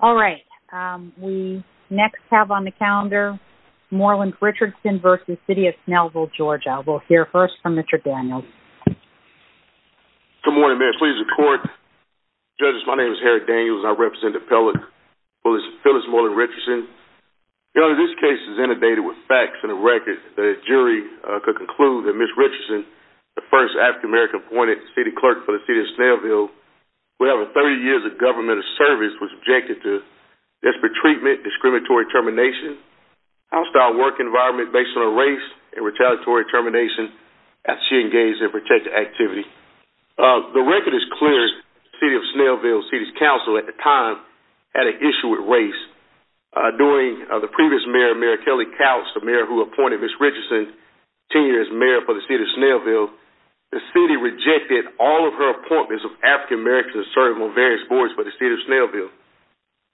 All right. We next have on the calendar Moreland-Richardson v. City of Snellville, Georgia. We'll hear first from Mr. Daniels. Good morning, ma'am. Please record. Judges, my name is Harry Daniels. I represent Appellate Phyllis Moreland-Richardson. You know, this case is inundated with facts and a record that a jury could conclude that Ms. Richardson, the first African-American appointed city clerk for the City of Snellville, who had over 30 years of government service, was objected to desperate treatment, discriminatory termination, hostile work environment based on her race, and retaliatory termination after she engaged in protective activity. The record is clear. The City of Snellville City's Council at the time had an issue with race. During the previous mayor, Mayor Kelly Kautz, the mayor who appointed Ms. Richardson, as mayor for the City of Snellville, the city rejected all of her appointments of African-Americans to serve on various boards for the City of Snellville.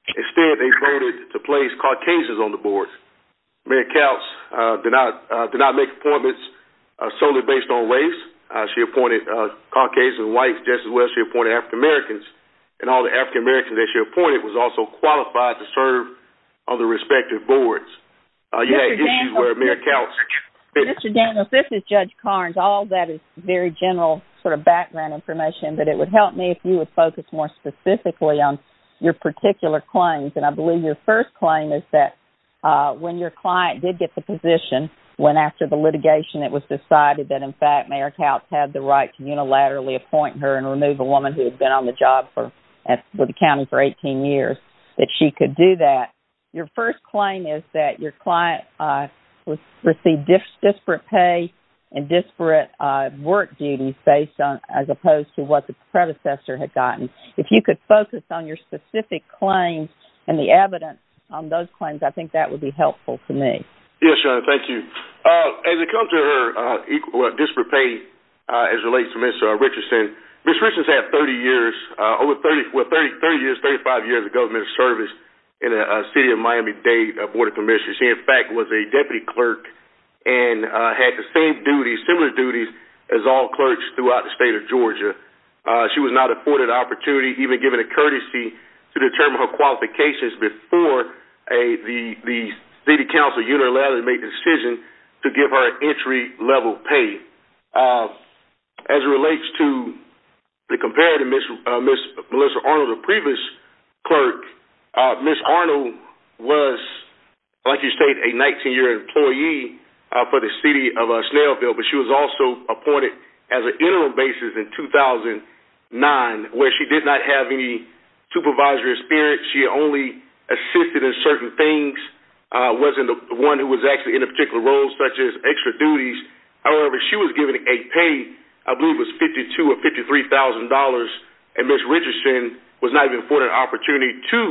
Instead, they voted to place Caucasians on the boards. Mayor Kautz did not make appointments solely based on race. She appointed Caucasian whites, just as well as she appointed African-Americans. And all the African-Americans that she appointed was also qualified to serve on the respective boards. Mr. Daniels, this is Judge Karnes. All that is very general sort of background information, but it would help me if you would focus more specifically on your particular claims. And I believe your first claim is that when your client did get the position, when after the litigation it was decided that, in fact, Mayor Kautz had the right to unilaterally appoint her and remove a woman who had been on the job with the county for 18 years, that she could do that. Your first claim is that your client received disparate pay and disparate work duties as opposed to what the predecessor had gotten. If you could focus on your specific claims and the evidence on those claims, I think that would be helpful to me. Yes, Your Honor. Thank you. As it comes to her disparate pay as it relates to Ms. Richardson, Ms. Richardson has had 30 years, 35 years of government service in the City of Miami-Dade Board of Commissioners. She, in fact, was a deputy clerk and had the same duties, similar duties as all clerks throughout the state of Georgia. She was not afforded the opportunity, even given a courtesy, to determine her qualifications before the city council unilaterally made the decision to give her entry-level pay. As it relates to the comparative, Ms. Melissa Arnold, the previous clerk, Ms. Arnold was, like you state, a 19-year employee for the City of Snailville, but she was also appointed as an interim basis in 2009, where she did not have any supervisory experience. She only assisted in certain things, wasn't the one who was actually in a particular role, such as extra duties. However, she was given a pay, I believe it was $52,000 or $53,000, and Ms. Richardson was not even afforded an opportunity to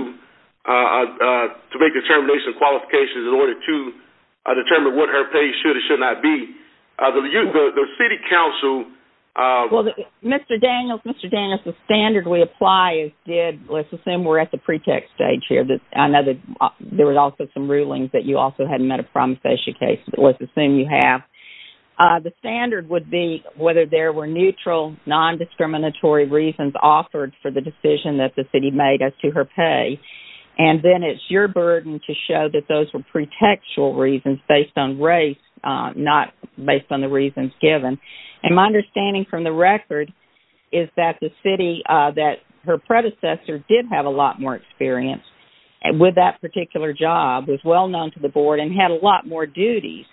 make determinations and qualifications in order to determine what her pay should or should not be. The city council- Mr. Daniels, Mr. Daniels, the standard we apply is, let's assume we're at the pre-tech stage here, I know that there were also some rulings that you also had met a promissory case, but let's assume you have. The standard would be whether there were neutral, non-discriminatory reasons offered for the decision that the city made as to her pay, and then it's your burden to show that those were pre-tech reasons based on race, not based on the reasons given. And my understanding from the record is that the city, that her predecessor did have a lot more experience with that particular job, was well-known to the board, and had a lot more duties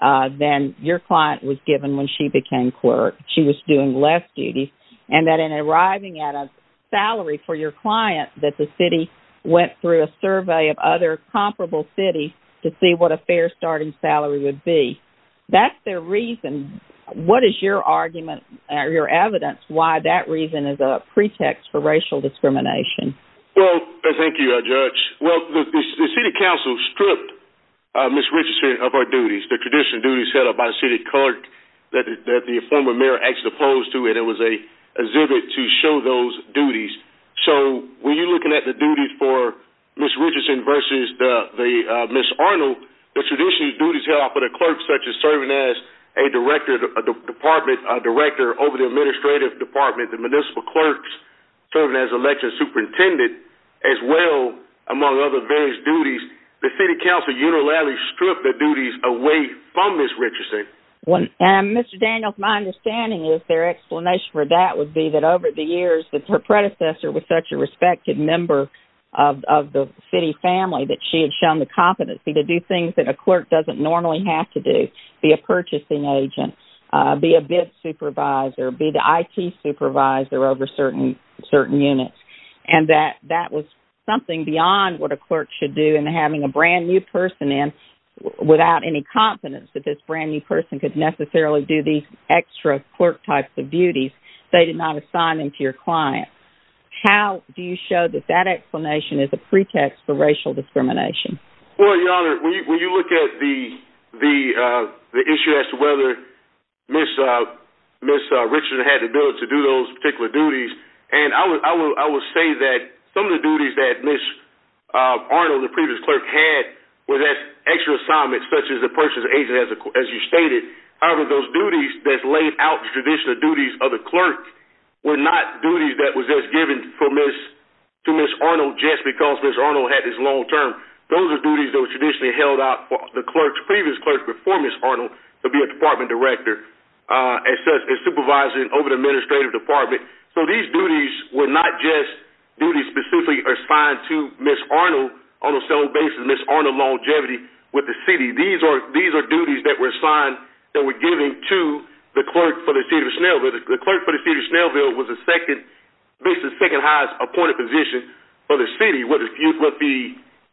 than your client was given when she became clerk. She was doing less duties, and that in arriving at a salary for your client, that the city went through a survey of other comparable cities to see what a fair starting salary would be. That's their reason. What is your argument, or your evidence, why that reason is a pre-tech for racial discrimination? Well, thank you, Judge. Well, the city council stripped Ms. Richardson of her duties, the traditional duties held by the city clerk that the former mayor actually opposed to it. It was a exhibit to show those duties. So when you're looking at the duties for Ms. Richardson versus Ms. Arnold, the traditional duties held by the clerk, such as serving as a director over the administrative department, the municipal clerk, serving as election superintendent, as well among other various duties, the city council unilaterally stripped the duties away from Ms. Richardson. Mr. Daniels, my understanding is their explanation for that would be that over the years that her predecessor was such a respected member of the city family that she had shown the competency to do things that a clerk doesn't normally have to do, be a purchasing agent, be a bid supervisor, be the IT supervisor over certain units. And that that was something beyond what a clerk should do, and having a brand new person in without any confidence that this brand new person could necessarily do these extra clerk types of duties, they did not assign them to your client. How do you show that that explanation is a pre-tech for racial discrimination? Well, Your Honor, when you look at the issue as to whether Ms. Richardson had the ability to do those particular duties, and I will say that some of the duties that Ms. Arnold, the previous clerk, had were those extra assignments, such as the purchasing agent, as you stated. However, those duties that laid out the traditional duties of the clerk were not duties that was given to Ms. Arnold just because Ms. Arnold had this long term. Those are duties that were traditionally held out for the previous clerk before Ms. Arnold to be a department director, as supervising over the administrative department. So these duties were not just duties specifically assigned to Ms. Arnold on a sole basis, Ms. Arnold longevity with the city. These are duties that were assigned, that were given to the clerk for the city of Snellville. The clerk for the city of Snellville was basically the second highest appointed position for the city. What the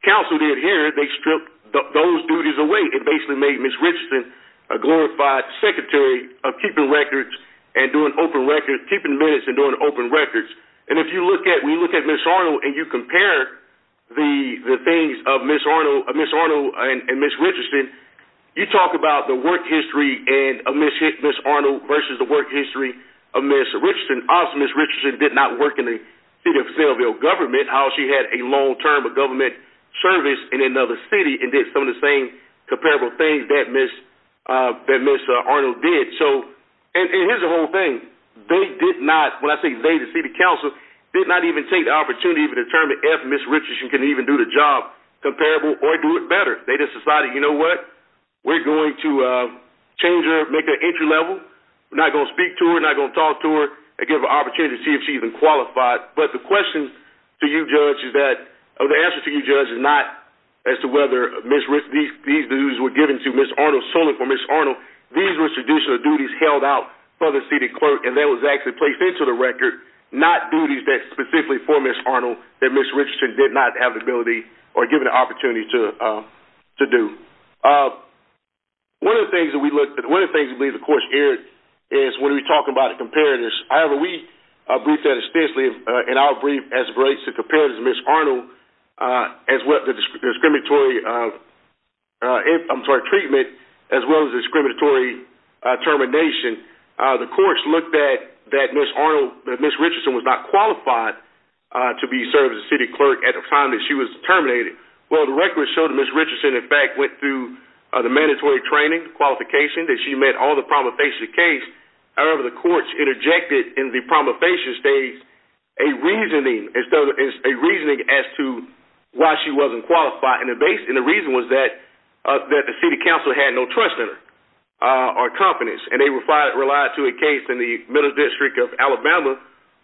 council did here, they stripped those duties away. It basically made Ms. Richardson a glorified secretary of keeping records and doing open records, keeping minutes and doing open records. And if you look at Ms. Arnold and you compare the things of Ms. Arnold and Ms. Richardson, you talk about the work history of Ms. Arnold versus the work history of Ms. Richardson. Obviously, Ms. Richardson did not work in the city of Snellville government. How she had a long term of government service in another city and did some of the same comparable things that Ms. Arnold did. And here's the whole thing. They did not, when I say they, the city council did not even take the opportunity to determine if Ms. Richardson could even do the job comparable or do it better. They just decided, you know what, we're going to change her, make her entry level. We're not going to speak to her, not going to talk to her, and give her an opportunity to see if she's even qualified. But the question to you, Judge, is that, or the answer to you, Judge, is not as to whether these duties were given to Ms. Arnold solely for Ms. Arnold. These were traditional duties held out for the city clerk and that was actually placed into the record, not duties that specifically for Ms. Arnold that Ms. Richardson did not have the ability or given the opportunity to do. One of the things that we looked at, one of the things that we, of course, aired is when we talk about the comparatives. However, we briefed that extensively in our brief as to comparatives of Ms. Arnold, as well as discriminatory treatment, as well as discriminatory termination. The courts looked at that Ms. Arnold, that Ms. Richardson was not qualified to be served as a city clerk at the time that she was terminated. Well, the record showed that Ms. Richardson, in fact, went through the mandatory training, qualification, that she met all the problems that face the case. However, the courts interjected in the promulgation stage a reasoning as to why she wasn't qualified. The reason was that the city council had no trust in her or confidence. They relied to a case in the Middle District of Alabama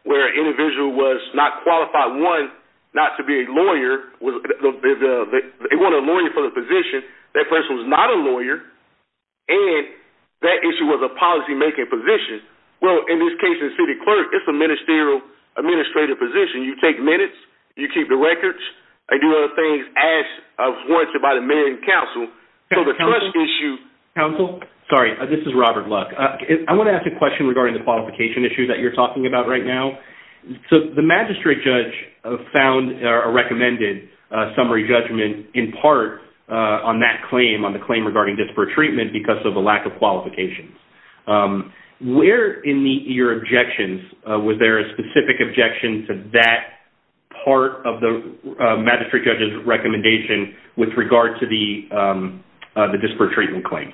where an individual was not qualified, one, not to be a lawyer. They wanted a lawyer for the position. That person was not a lawyer, and that issue was a policymaking position. Well, in this case, the city clerk, it's a ministerial administrative position. You take minutes. You keep the records. I do other things as warranted by the mayor and council. So, the trust issue— Council? Council? Sorry, this is Robert Luck. I want to ask a question regarding the qualification issue that you're talking about right now. The magistrate judge found a recommended summary judgment in part on that claim, on the claim regarding disparate treatment, because of the lack of qualifications. Where in your objections, was there a specific objection to that part of the magistrate judge's recommendation with regard to the disparate treatment claim?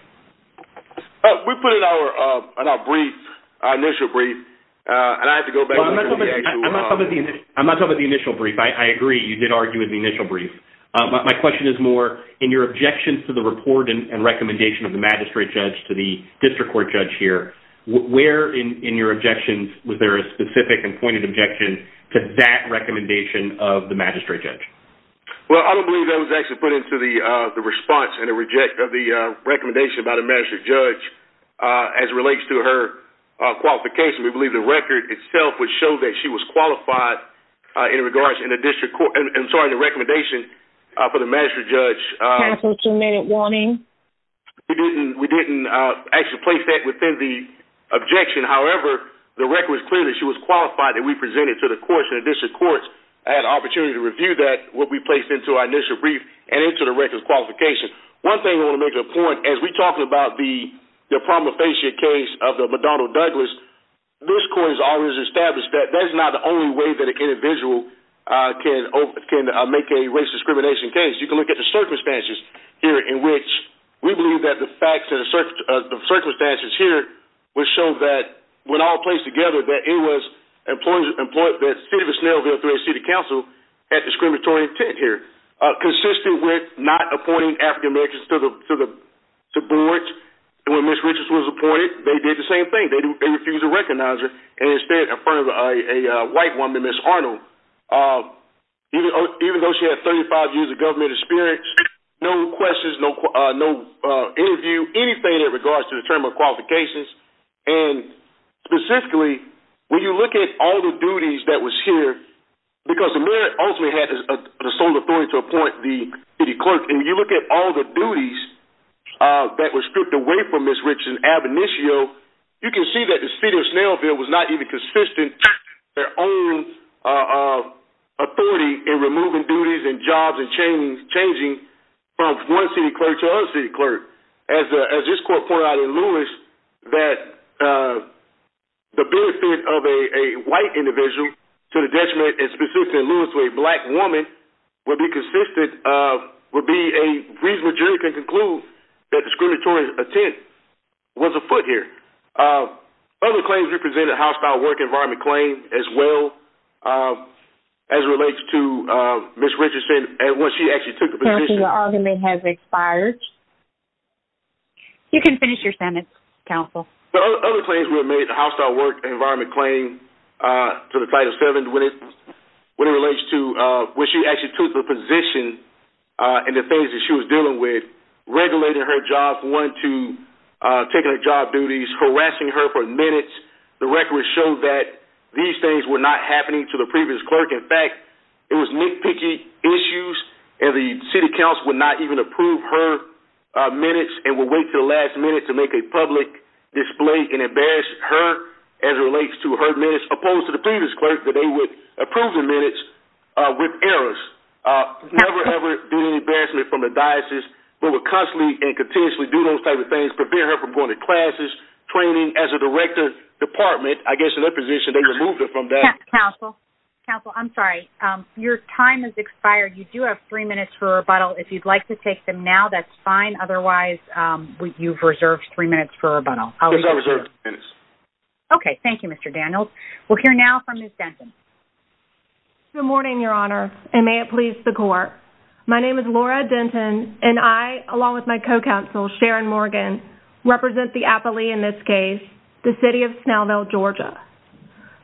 We put it in our brief, our initial brief, and I have to go back to the actual— I'm not talking about the initial brief. I agree. You did argue in the initial brief. My question is more, in your objections to the report and recommendation of the magistrate judge to the district court judge here, where in your objections, was there a specific and pointed objection to that recommendation of the magistrate judge? Well, I don't believe that was actually put into the response of the recommendation by the magistrate judge as it relates to her qualification. We believe the record itself would show that she was qualified in regards to the district court—I'm sorry, the recommendation for the magistrate judge. Council, two-minute warning. We didn't actually place that within the objection. However, the record was clear that she was qualified and we presented to the courts and the district courts. I had an opportunity to review that, what we placed into our initial brief, and into the record of qualification. One thing I want to make a point, as we talk about the promulgation case of the Madonna Douglas, this court has always established that that is not the only way that an individual can make a race discrimination case. You can look at the circumstances here in which we believe that the facts of the circumstances here would show that, when all placed together, that it was the City of Snellville through a city council had discriminatory intent here. Consistent with not appointing African-Americans to the board, when Ms. Richards was appointed, they did the same thing. They refused to recognize her and instead affirmed a white woman, Ms. Arnold. Even though she had 35 years of government experience, no questions, no interview, anything in regards to the term of qualifications. Specifically, when you look at all the duties that was here, because the mayor ultimately had the sole authority to appoint the city clerk. When you look at all the duties that were stripped away from Ms. Richards in ab initio, you can see that the City of Snellville was not even consistent with their own authority in removing duties and jobs and changing from one city clerk to another city clerk. As this court pointed out in Lewis, that the benefit of a white individual to the detriment, specifically in Lewis, to a black woman would be a reasonable jury can conclude that discriminatory intent was afoot here. Other claims represented hostile work environment claims as well as relates to Ms. Richardson and when she actually took the position. You can finish your sentence, counsel. Other claims were made hostile work environment claim to the title seven when it relates to when she actually took the position and the things that she was dealing with, regulating her job, one, two, taking her job duties, harassing her for minutes. The record showed that these things were not happening to the previous clerk. In fact, it was nitpicky issues and the city council would not even approve her minutes and would wait until the last minute to make a public display and embarrass her as it relates to her minutes opposed to the previous clerk that they would approve the minutes with errors. Never ever do any embarrassment from the diocese, but would constantly and continuously do those type of things, prevent her from going to classes, training as a director department, I guess in that position, they removed her from that. Counsel, counsel, I'm sorry. Your time has expired. You do have three minutes for rebuttal. If you'd like to take them now, that's fine. Otherwise, you've reserved three minutes for rebuttal. Okay, thank you, Mr. Daniels. We'll hear now from Ms. Denton. Good morning, Your Honor, and may it please the court. My name is Laura Denton, and I, along with my co-counsel, Sharon Morgan, represent the appellee in this case, the city of Snellville, Georgia.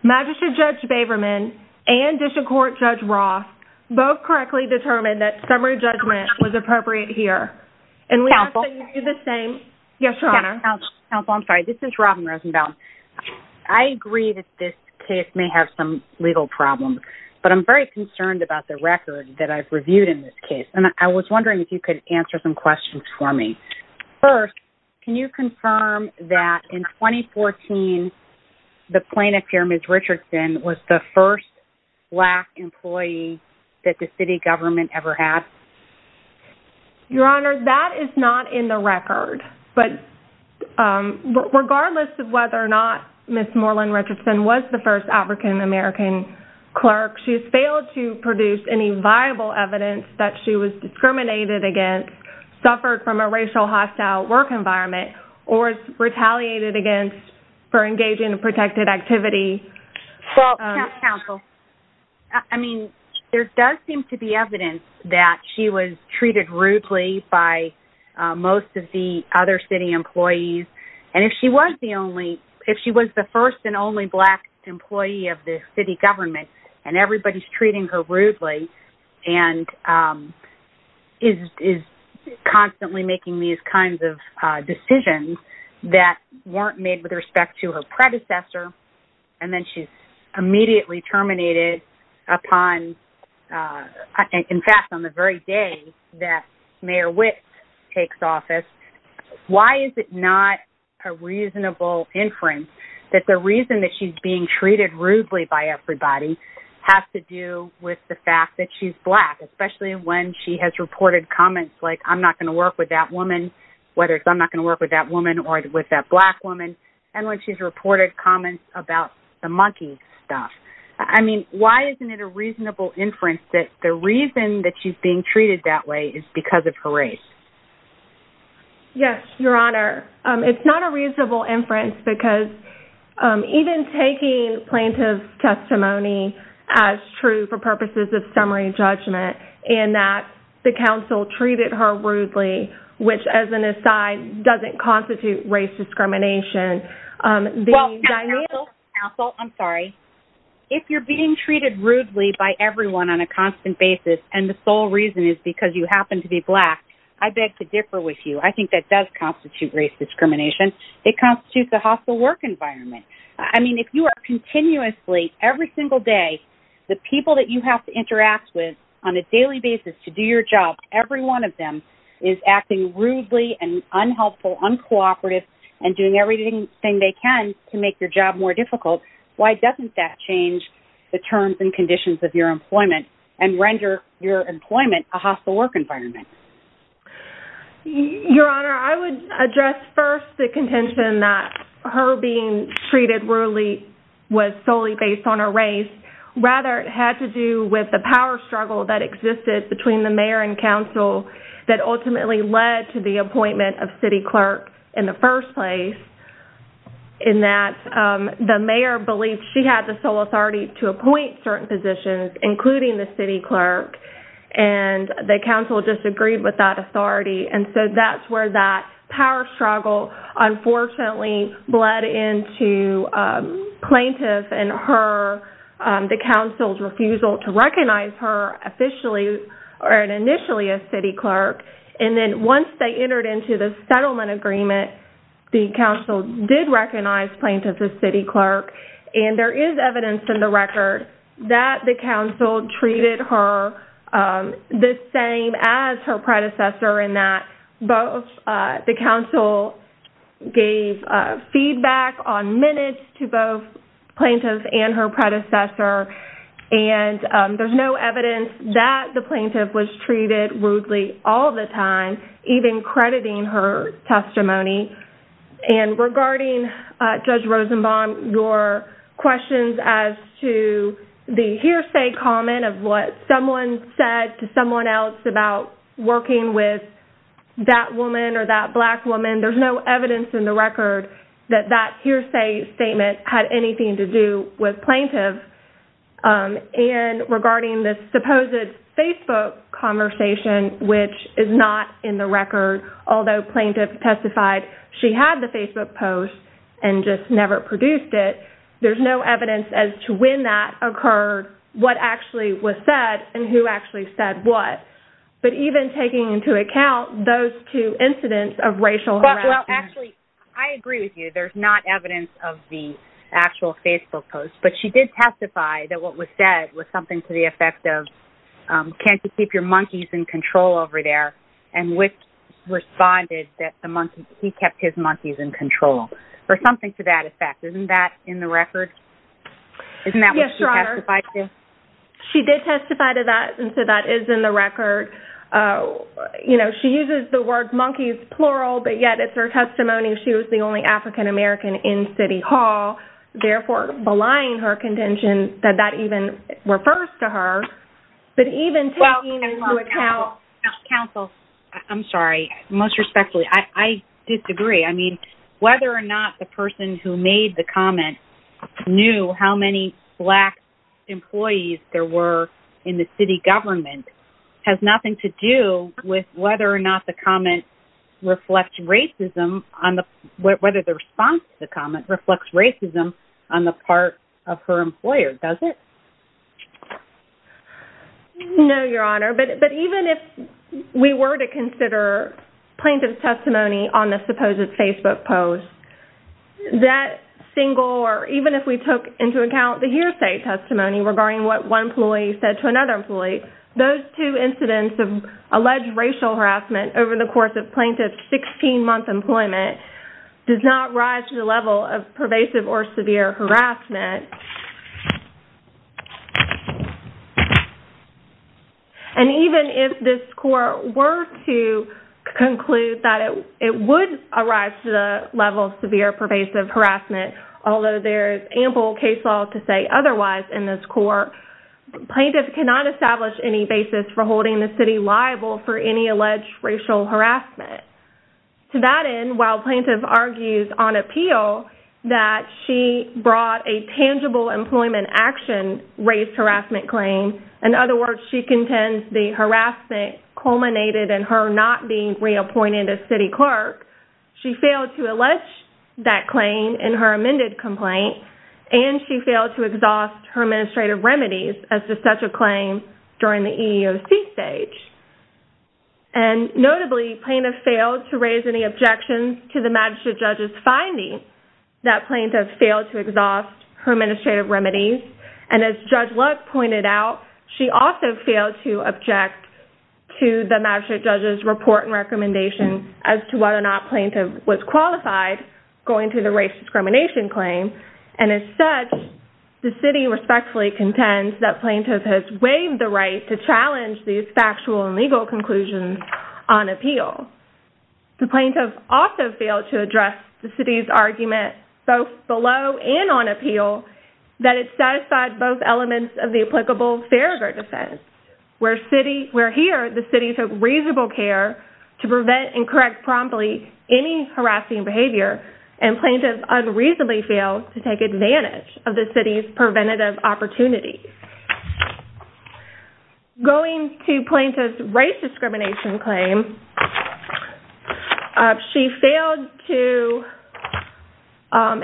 Magistrate Judge Baverman and District Court Judge Roth both correctly determined that summary judgment was appropriate here. Counsel. And we ask that you do the same. Yes, Your Honor. Counsel, I'm sorry. This is Robin Rosenbaum. I agree that this case may have some legal problems, but I'm very concerned about the record that I've reviewed in this case. And I was wondering if you could answer some questions for me. First, can you confirm that in 2014, the plaintiff here, Ms. Richardson, was the first black employee that the city government ever had? Your Honor, that is not in the record. But regardless of whether or not Ms. Moreland Richardson was the first African-American clerk, she has failed to produce any viable evidence that she was discriminated against, suffered from a racial hostile work environment, or retaliated against for engaging in protected activity. Counsel. I mean, there does seem to be evidence that she was treated rudely by most of the other city employees. And if she was the first and only black employee of the city government, and everybody's treating her rudely, and is constantly making these kinds of decisions that weren't made with respect to her predecessor, and then she's immediately terminated upon, in fact, on the very day that Mayor Wicks takes office, why is it not a reasonable inference that the reason that she's being treated rudely by everybody has to do with the fact that she's black, especially when she has reported comments like, I'm not going to work with that woman, whether it's I'm not going to work with that woman or with that black woman. And when she's reported comments about the monkey stuff. I mean, why isn't it a reasonable inference that the reason that she's being treated that way is because of her race? Yes, Your Honor. It's not a reasonable inference because even taking plaintiff's testimony as true for purposes of summary judgment, and that the council treated her rudely, which, as an aside, doesn't constitute race discrimination. Well, counsel, I'm sorry. If you're being treated rudely by everyone on a constant basis, and the sole reason is because you happen to be black, I beg to differ with you. I think that does constitute race discrimination. It constitutes a hostile work environment. I mean, if you are continuously, every single day, the people that you have to interact with on a daily basis to do your job, every one of them is acting rudely and unhelpful, uncooperative, and doing everything they can to make your job more difficult. Why doesn't that change the terms and conditions of your employment and render your employment a hostile work environment? Your Honor, I would address first the contention that her being treated rudely was solely based on her race. Rather, it had to do with the power struggle that existed between the mayor and council that ultimately led to the appointment of city clerk in the first place, in that the mayor believed she had the sole authority to appoint certain positions, including the city clerk, and the council disagreed with that authority. And so that's where that power struggle unfortunately bled into plaintiff and her, the council's refusal to recognize her officially or initially as city clerk. And then once they entered into the settlement agreement, the council did recognize plaintiff as city clerk, and there is evidence in the record that the council treated her the same as her predecessor, in that both the council gave feedback on minutes to both plaintiff and her predecessor, and there's no evidence that the plaintiff was treated rudely all the time, even crediting her testimony. And regarding Judge Rosenbaum, your questions as to the hearsay comment of what someone said to someone else about working with that woman or that black woman, there's no evidence in the record that that hearsay statement had anything to do with plaintiff. And regarding the supposed Facebook conversation, which is not in the record, although plaintiff testified she had the Facebook post and just never produced it, there's no evidence as to when that occurred, what actually was said, and who actually said what. But even taking into account those two incidents of racial harassment. Well, actually, I agree with you. There's not evidence of the actual Facebook post, but she did testify that what was said was something to the effect of, can't you keep your monkeys in control over there? And which responded that he kept his monkeys in control, or something to that effect. Isn't that in the record? Yes, Your Honor. Isn't that what she testified to? She did testify to that, and so that is in the record. You know, she uses the word monkeys plural, but yet it's her testimony. She was the only African-American in City Hall, therefore belying her contention that that even refers to her. But even taking into account... Counsel, I'm sorry. Most respectfully, I disagree. I mean, whether or not the person who made the comment knew how many black employees there were in the city government has nothing to do with whether or not the comment reflects racism on the... whether the response to the comment reflects racism on the part of her employer, does it? No, Your Honor. But even if we were to consider plaintiff's testimony on the supposed Facebook post, that single, or even if we took into account the hearsay testimony regarding what one employee said to another employee, those two incidents of alleged racial harassment over the course of plaintiff's 16-month employment does not rise to the level of pervasive or severe harassment. And even if this court were to conclude that it would arise to the level of severe pervasive harassment, although there is ample case law to say otherwise in this court, plaintiff cannot establish any basis for holding the city liable for any alleged racial harassment. To that end, while plaintiff argues on appeal that she brought a tangible employment action and raised harassment claim, in other words, she contends the harassment culminated in her not being reappointed as city clerk, she failed to allege that claim in her amended complaint, and she failed to exhaust her administrative remedies as to such a claim during the EEOC stage. And notably, plaintiff failed to raise any objections to the magistrate judge's finding that plaintiff failed to exhaust her administrative remedies. And as Judge Luck pointed out, she also failed to object to the magistrate judge's report and recommendation as to whether or not plaintiff was qualified going through the race discrimination claim. And as such, the city respectfully contends that plaintiff has waived the right to challenge these factual and legal conclusions on appeal. The plaintiff also failed to address the city's argument, both below and on appeal, that it satisfied both elements of the applicable Farragher defense, where here the city took reasonable care to prevent and correct promptly any harassing behavior, and plaintiff unreasonably failed to take advantage of the city's preventative opportunities. Going to plaintiff's race discrimination claim, she failed to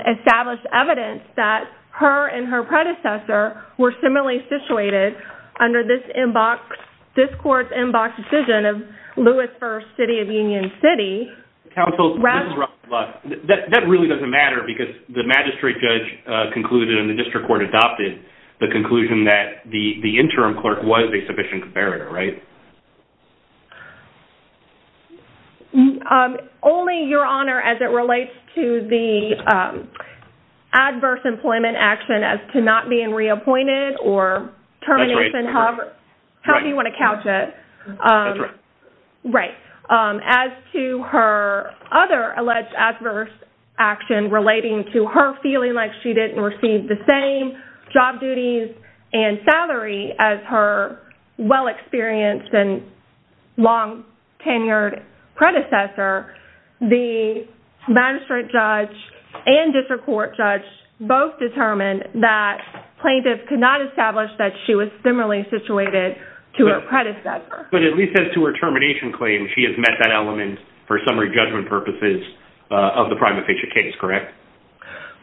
establish evidence that her and her predecessor were similarly situated under this court's in-box decision of Lewis v. City of Union City. Counsel, this is Russell Luck. That really doesn't matter because the magistrate judge concluded and the district court adopted the conclusion that the interim clerk was a sufficient comparator, right? Only, Your Honor, as it relates to the adverse employment action as to not being reappointed or termination. That's right. However you want to couch it. That's right. Right. As to her other alleged adverse action relating to her feeling like she didn't receive the same job duties and salary as her well-experienced and long-tenured predecessor, the magistrate judge and district court judge both determined that plaintiff could not establish that she was similarly situated to her predecessor. But at least as to her termination claim, she has met that element for summary judgment purposes of the prima facie case, correct?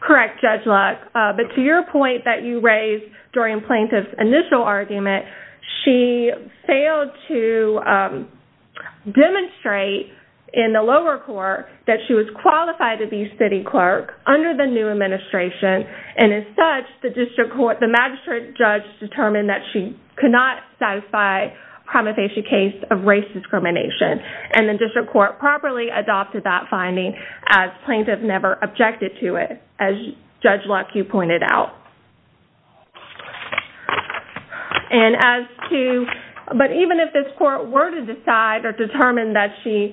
Correct, Judge Luck. But to your point that you raised during plaintiff's initial argument, she failed to demonstrate in the lower court that she was qualified to be city clerk under the new administration. And as such, the magistrate judge determined that she could not satisfy prima facie case of race discrimination. And the district court properly adopted that finding as plaintiff never objected to it, as Judge Luck, you pointed out. But even if this court were to decide or determine that she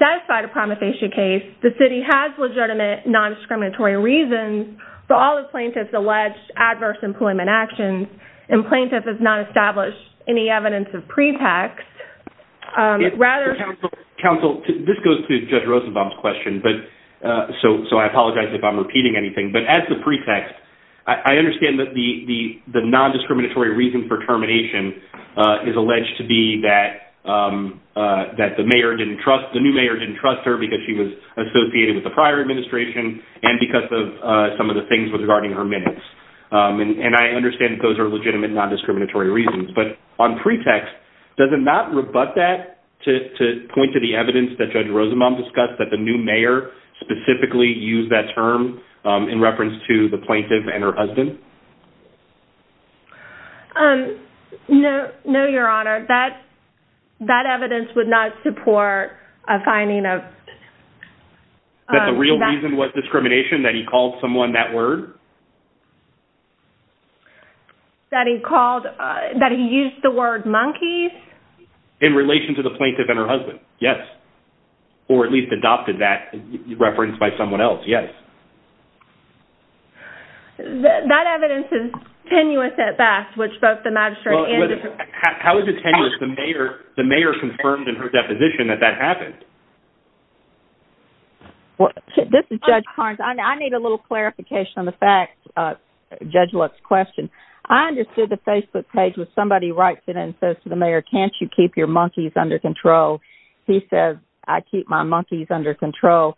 satisfied a prima facie case, the city has legitimate non-discriminatory reasons for all the plaintiff's alleged adverse employment actions. And plaintiff has not established any evidence of pretext. Counsel, this goes to Judge Rosenbaum's question, so I apologize if I'm repeating anything. But as to pretext, I understand that the non-discriminatory reason for termination is alleged to be that the new mayor didn't trust her because she was associated with the prior administration and because of some of the things regarding her minutes. And I understand that those are legitimate non-discriminatory reasons. But on pretext, does it not rebut that to point to the evidence that Judge Rosenbaum discussed, that the new mayor specifically used that term in reference to the plaintiff and her husband? No, Your Honor. That evidence would not support a finding of... That the real reason was discrimination, that he called someone that word? That he called, that he used the word monkeys? In relation to the plaintiff and her husband, yes. Or at least adopted that reference by someone else, yes. That evidence is tenuous at best, which both the magistrate and... How is it tenuous? The mayor confirmed in her deposition that that happened. This is Judge Carnes. I need a little clarification on the facts, Judge Lutz's question. I understood the Facebook page was somebody writes it in and says to the mayor, can't you keep your monkeys under control? He says, I keep my monkeys under control.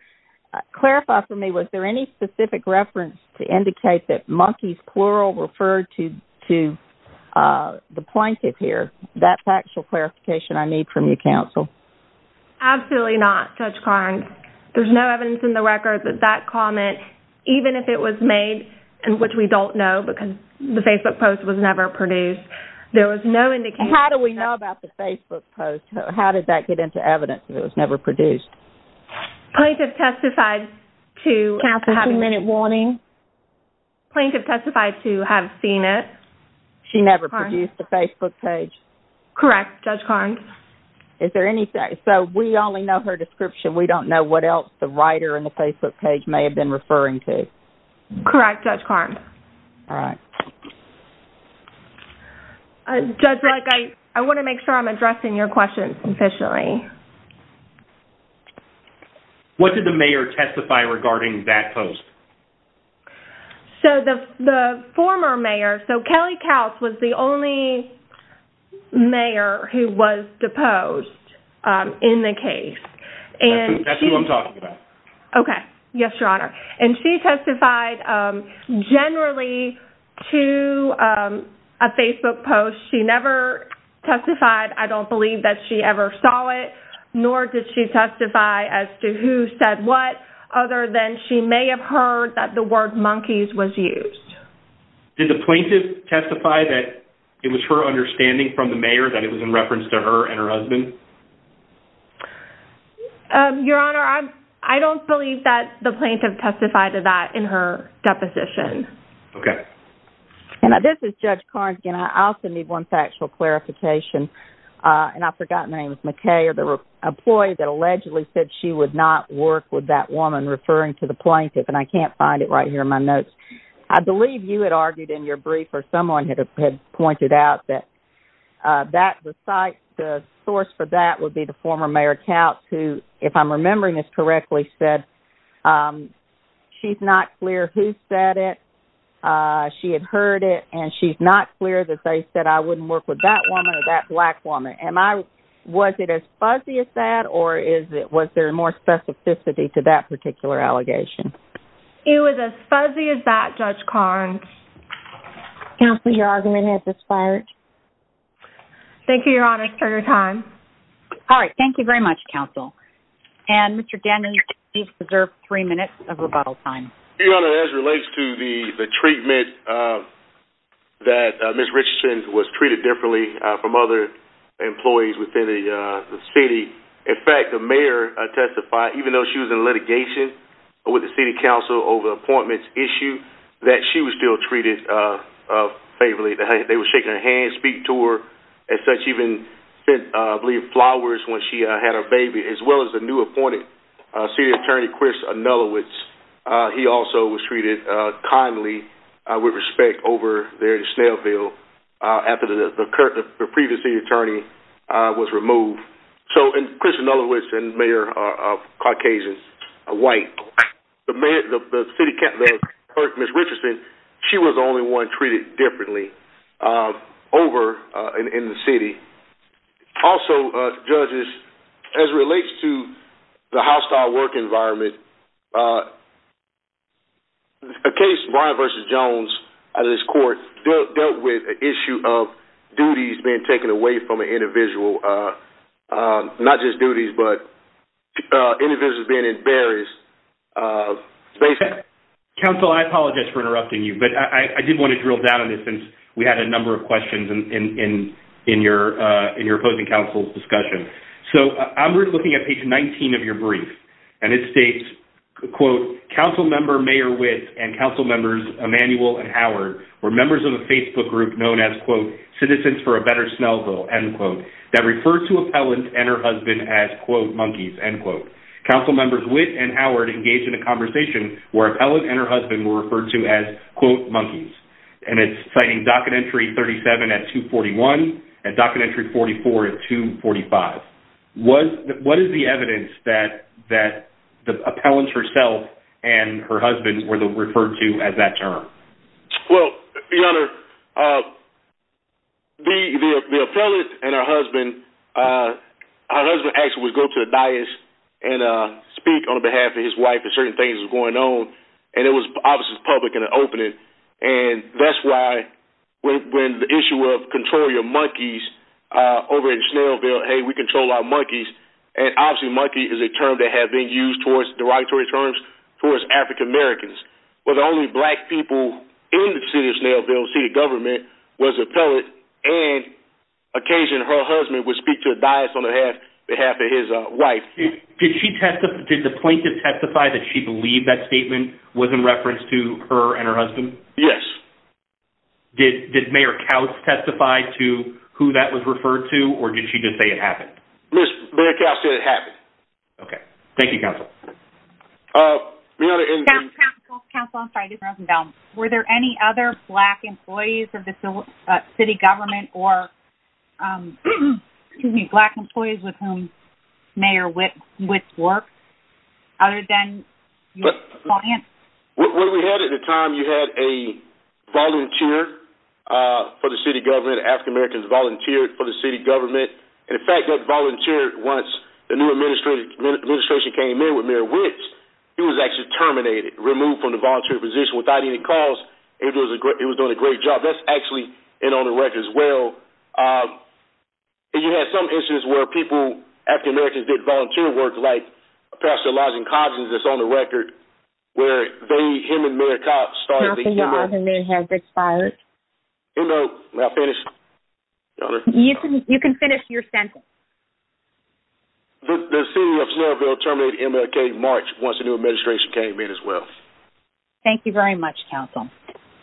Clarify for me, was there any specific reference to indicate that monkeys, plural, referred to the plaintiff here? That's actual clarification I need from you, counsel. Absolutely not, Judge Carnes. There's no evidence in the record that that comment, even if it was made, which we don't know because the Facebook post was never produced, there was no indication... How do we know about the Facebook post? How did that get into evidence if it was never produced? Plaintiff testified to... Counsel, two-minute warning. Plaintiff testified to have seen it. She never produced the Facebook page. Correct, Judge Carnes. Is there any... So we only know her description. We don't know what else the writer in the Facebook page may have been referring to. Correct, Judge Carnes. All right. Judge Lutz, I want to make sure I'm addressing your question sufficiently. What did the mayor testify regarding that post? So the former mayor, so Kelly Kautz was the only mayor who was deposed in the case. That's who I'm talking about. Okay. Yes, Your Honor. And she testified generally to a Facebook post. She never testified, I don't believe that she ever saw it, nor did she testify as to who said what, other than she may have heard that the word monkeys was used. Did the plaintiff testify that it was her understanding from the mayor that it was in reference to her and her husband? Your Honor, I don't believe that the plaintiff testified to that in her deposition. Okay. And this is Judge Carnes again. I also need one factual clarification. And I forgot the name of McKay, or the employee that allegedly said she would not work with that woman referring to the plaintiff. And I can't find it right here in my notes. I believe you had argued in your brief, or someone had pointed out that the source for that would be the former mayor, Kautz, who, if I'm remembering this correctly, said she's not clear who said it. She had heard it, and she's not clear that they said I wouldn't work with that woman or that black woman. Was it as fuzzy as that, or was there more specificity to that particular allegation? It was as fuzzy as that, Judge Carnes. Counsel, your argument has expired. Thank you, Your Honor, for your time. All right, thank you very much, Counsel. And Mr. Denny, you've preserved three minutes of rebuttal time. Your Honor, as it relates to the treatment that Ms. Richardson was treated differently from other employees within the city, in fact, the mayor testified, even though she was in litigation with the city council over the appointments issue, that she was still treated favorably. They were shaking her hand, speak to her, and such, even sent, I believe, flowers when she had her baby, as well as the new appointed city attorney, Chris Anulowicz. He also was treated kindly, with respect, over there in Snailville after the previous city attorney was removed. So, and Chris Anulowicz and Mayor White, the mayor, the city council, Ms. Richardson, she was the only one treated differently over in the city. Also, judges, as it relates to the hostile work environment, a case, Ryan v. Jones, out of this court, dealt with an issue of duties being taken away from an individual, not just duties, but individuals being embarrassed. Counsel, I apologize for interrupting you, but I did want to drill down on this, since we had a number of questions in your opposing counsel's discussion. So, I'm looking at page 19 of your brief, and it states, quote, Council Member Mayor Witt and Council Members Emanuel and Howard were members of a Facebook group known as, quote, Citizens for a Better Snailville, end quote, that referred to Appellant and her husband as, quote, monkeys, end quote. Council Members Witt and Howard engaged in a conversation where Appellant and her husband were referred to as, quote, monkeys. And it's citing docket entry 37 at 241, and docket entry 44 at 245. What is the evidence that Appellant herself and her husband were referred to as that term? Well, Your Honor, the Appellant and her husband, her husband actually would go to the dais and speak on behalf of his wife if certain things were going on, and it was obviously public in an opening. And that's why, when the issue of controlling your monkeys over in Snailville, hey, we control our monkeys, and obviously monkey is a term that has been used towards derogatory terms towards African Americans. But the only black people in the city of Snailville, the city government, was Appellant, and occasionally her husband would speak to a dais on behalf of his wife. Did she testify, did the plaintiff testify that she believed that statement was in reference to her and her husband? Yes. Did Mayor Kautz testify to who that was referred to, or did she just say it happened? Mayor Kautz said it happened. Okay. Thank you, Counsel. Your Honor, in the... Counsel, Counsel, I'm sorry, I didn't hear what you were about. Were there any other black employees of the city government or, excuse me, black employees with whom Mayor Witt worked, other than Appellant? What we had at the time, you had a volunteer for the city government, African Americans volunteered for the city government, and, in fact, that volunteer, once the new administration came in with Mayor Witt, he was actually terminated, removed from the volunteer position without any cause. He was doing a great job. That's actually in on the record as well. And you had some instances where people, African Americans did volunteer work, like Pastor Elijah Coggins, that's on the record, where they, him and Mayor Kautz started the... Counsel, your Honor, may I have this file? It's on the record. No, may I finish? Your Honor? You can finish your sentence. The city of Louisville terminated MLK in March once the new administration came in as well. Thank you very much, Counsel.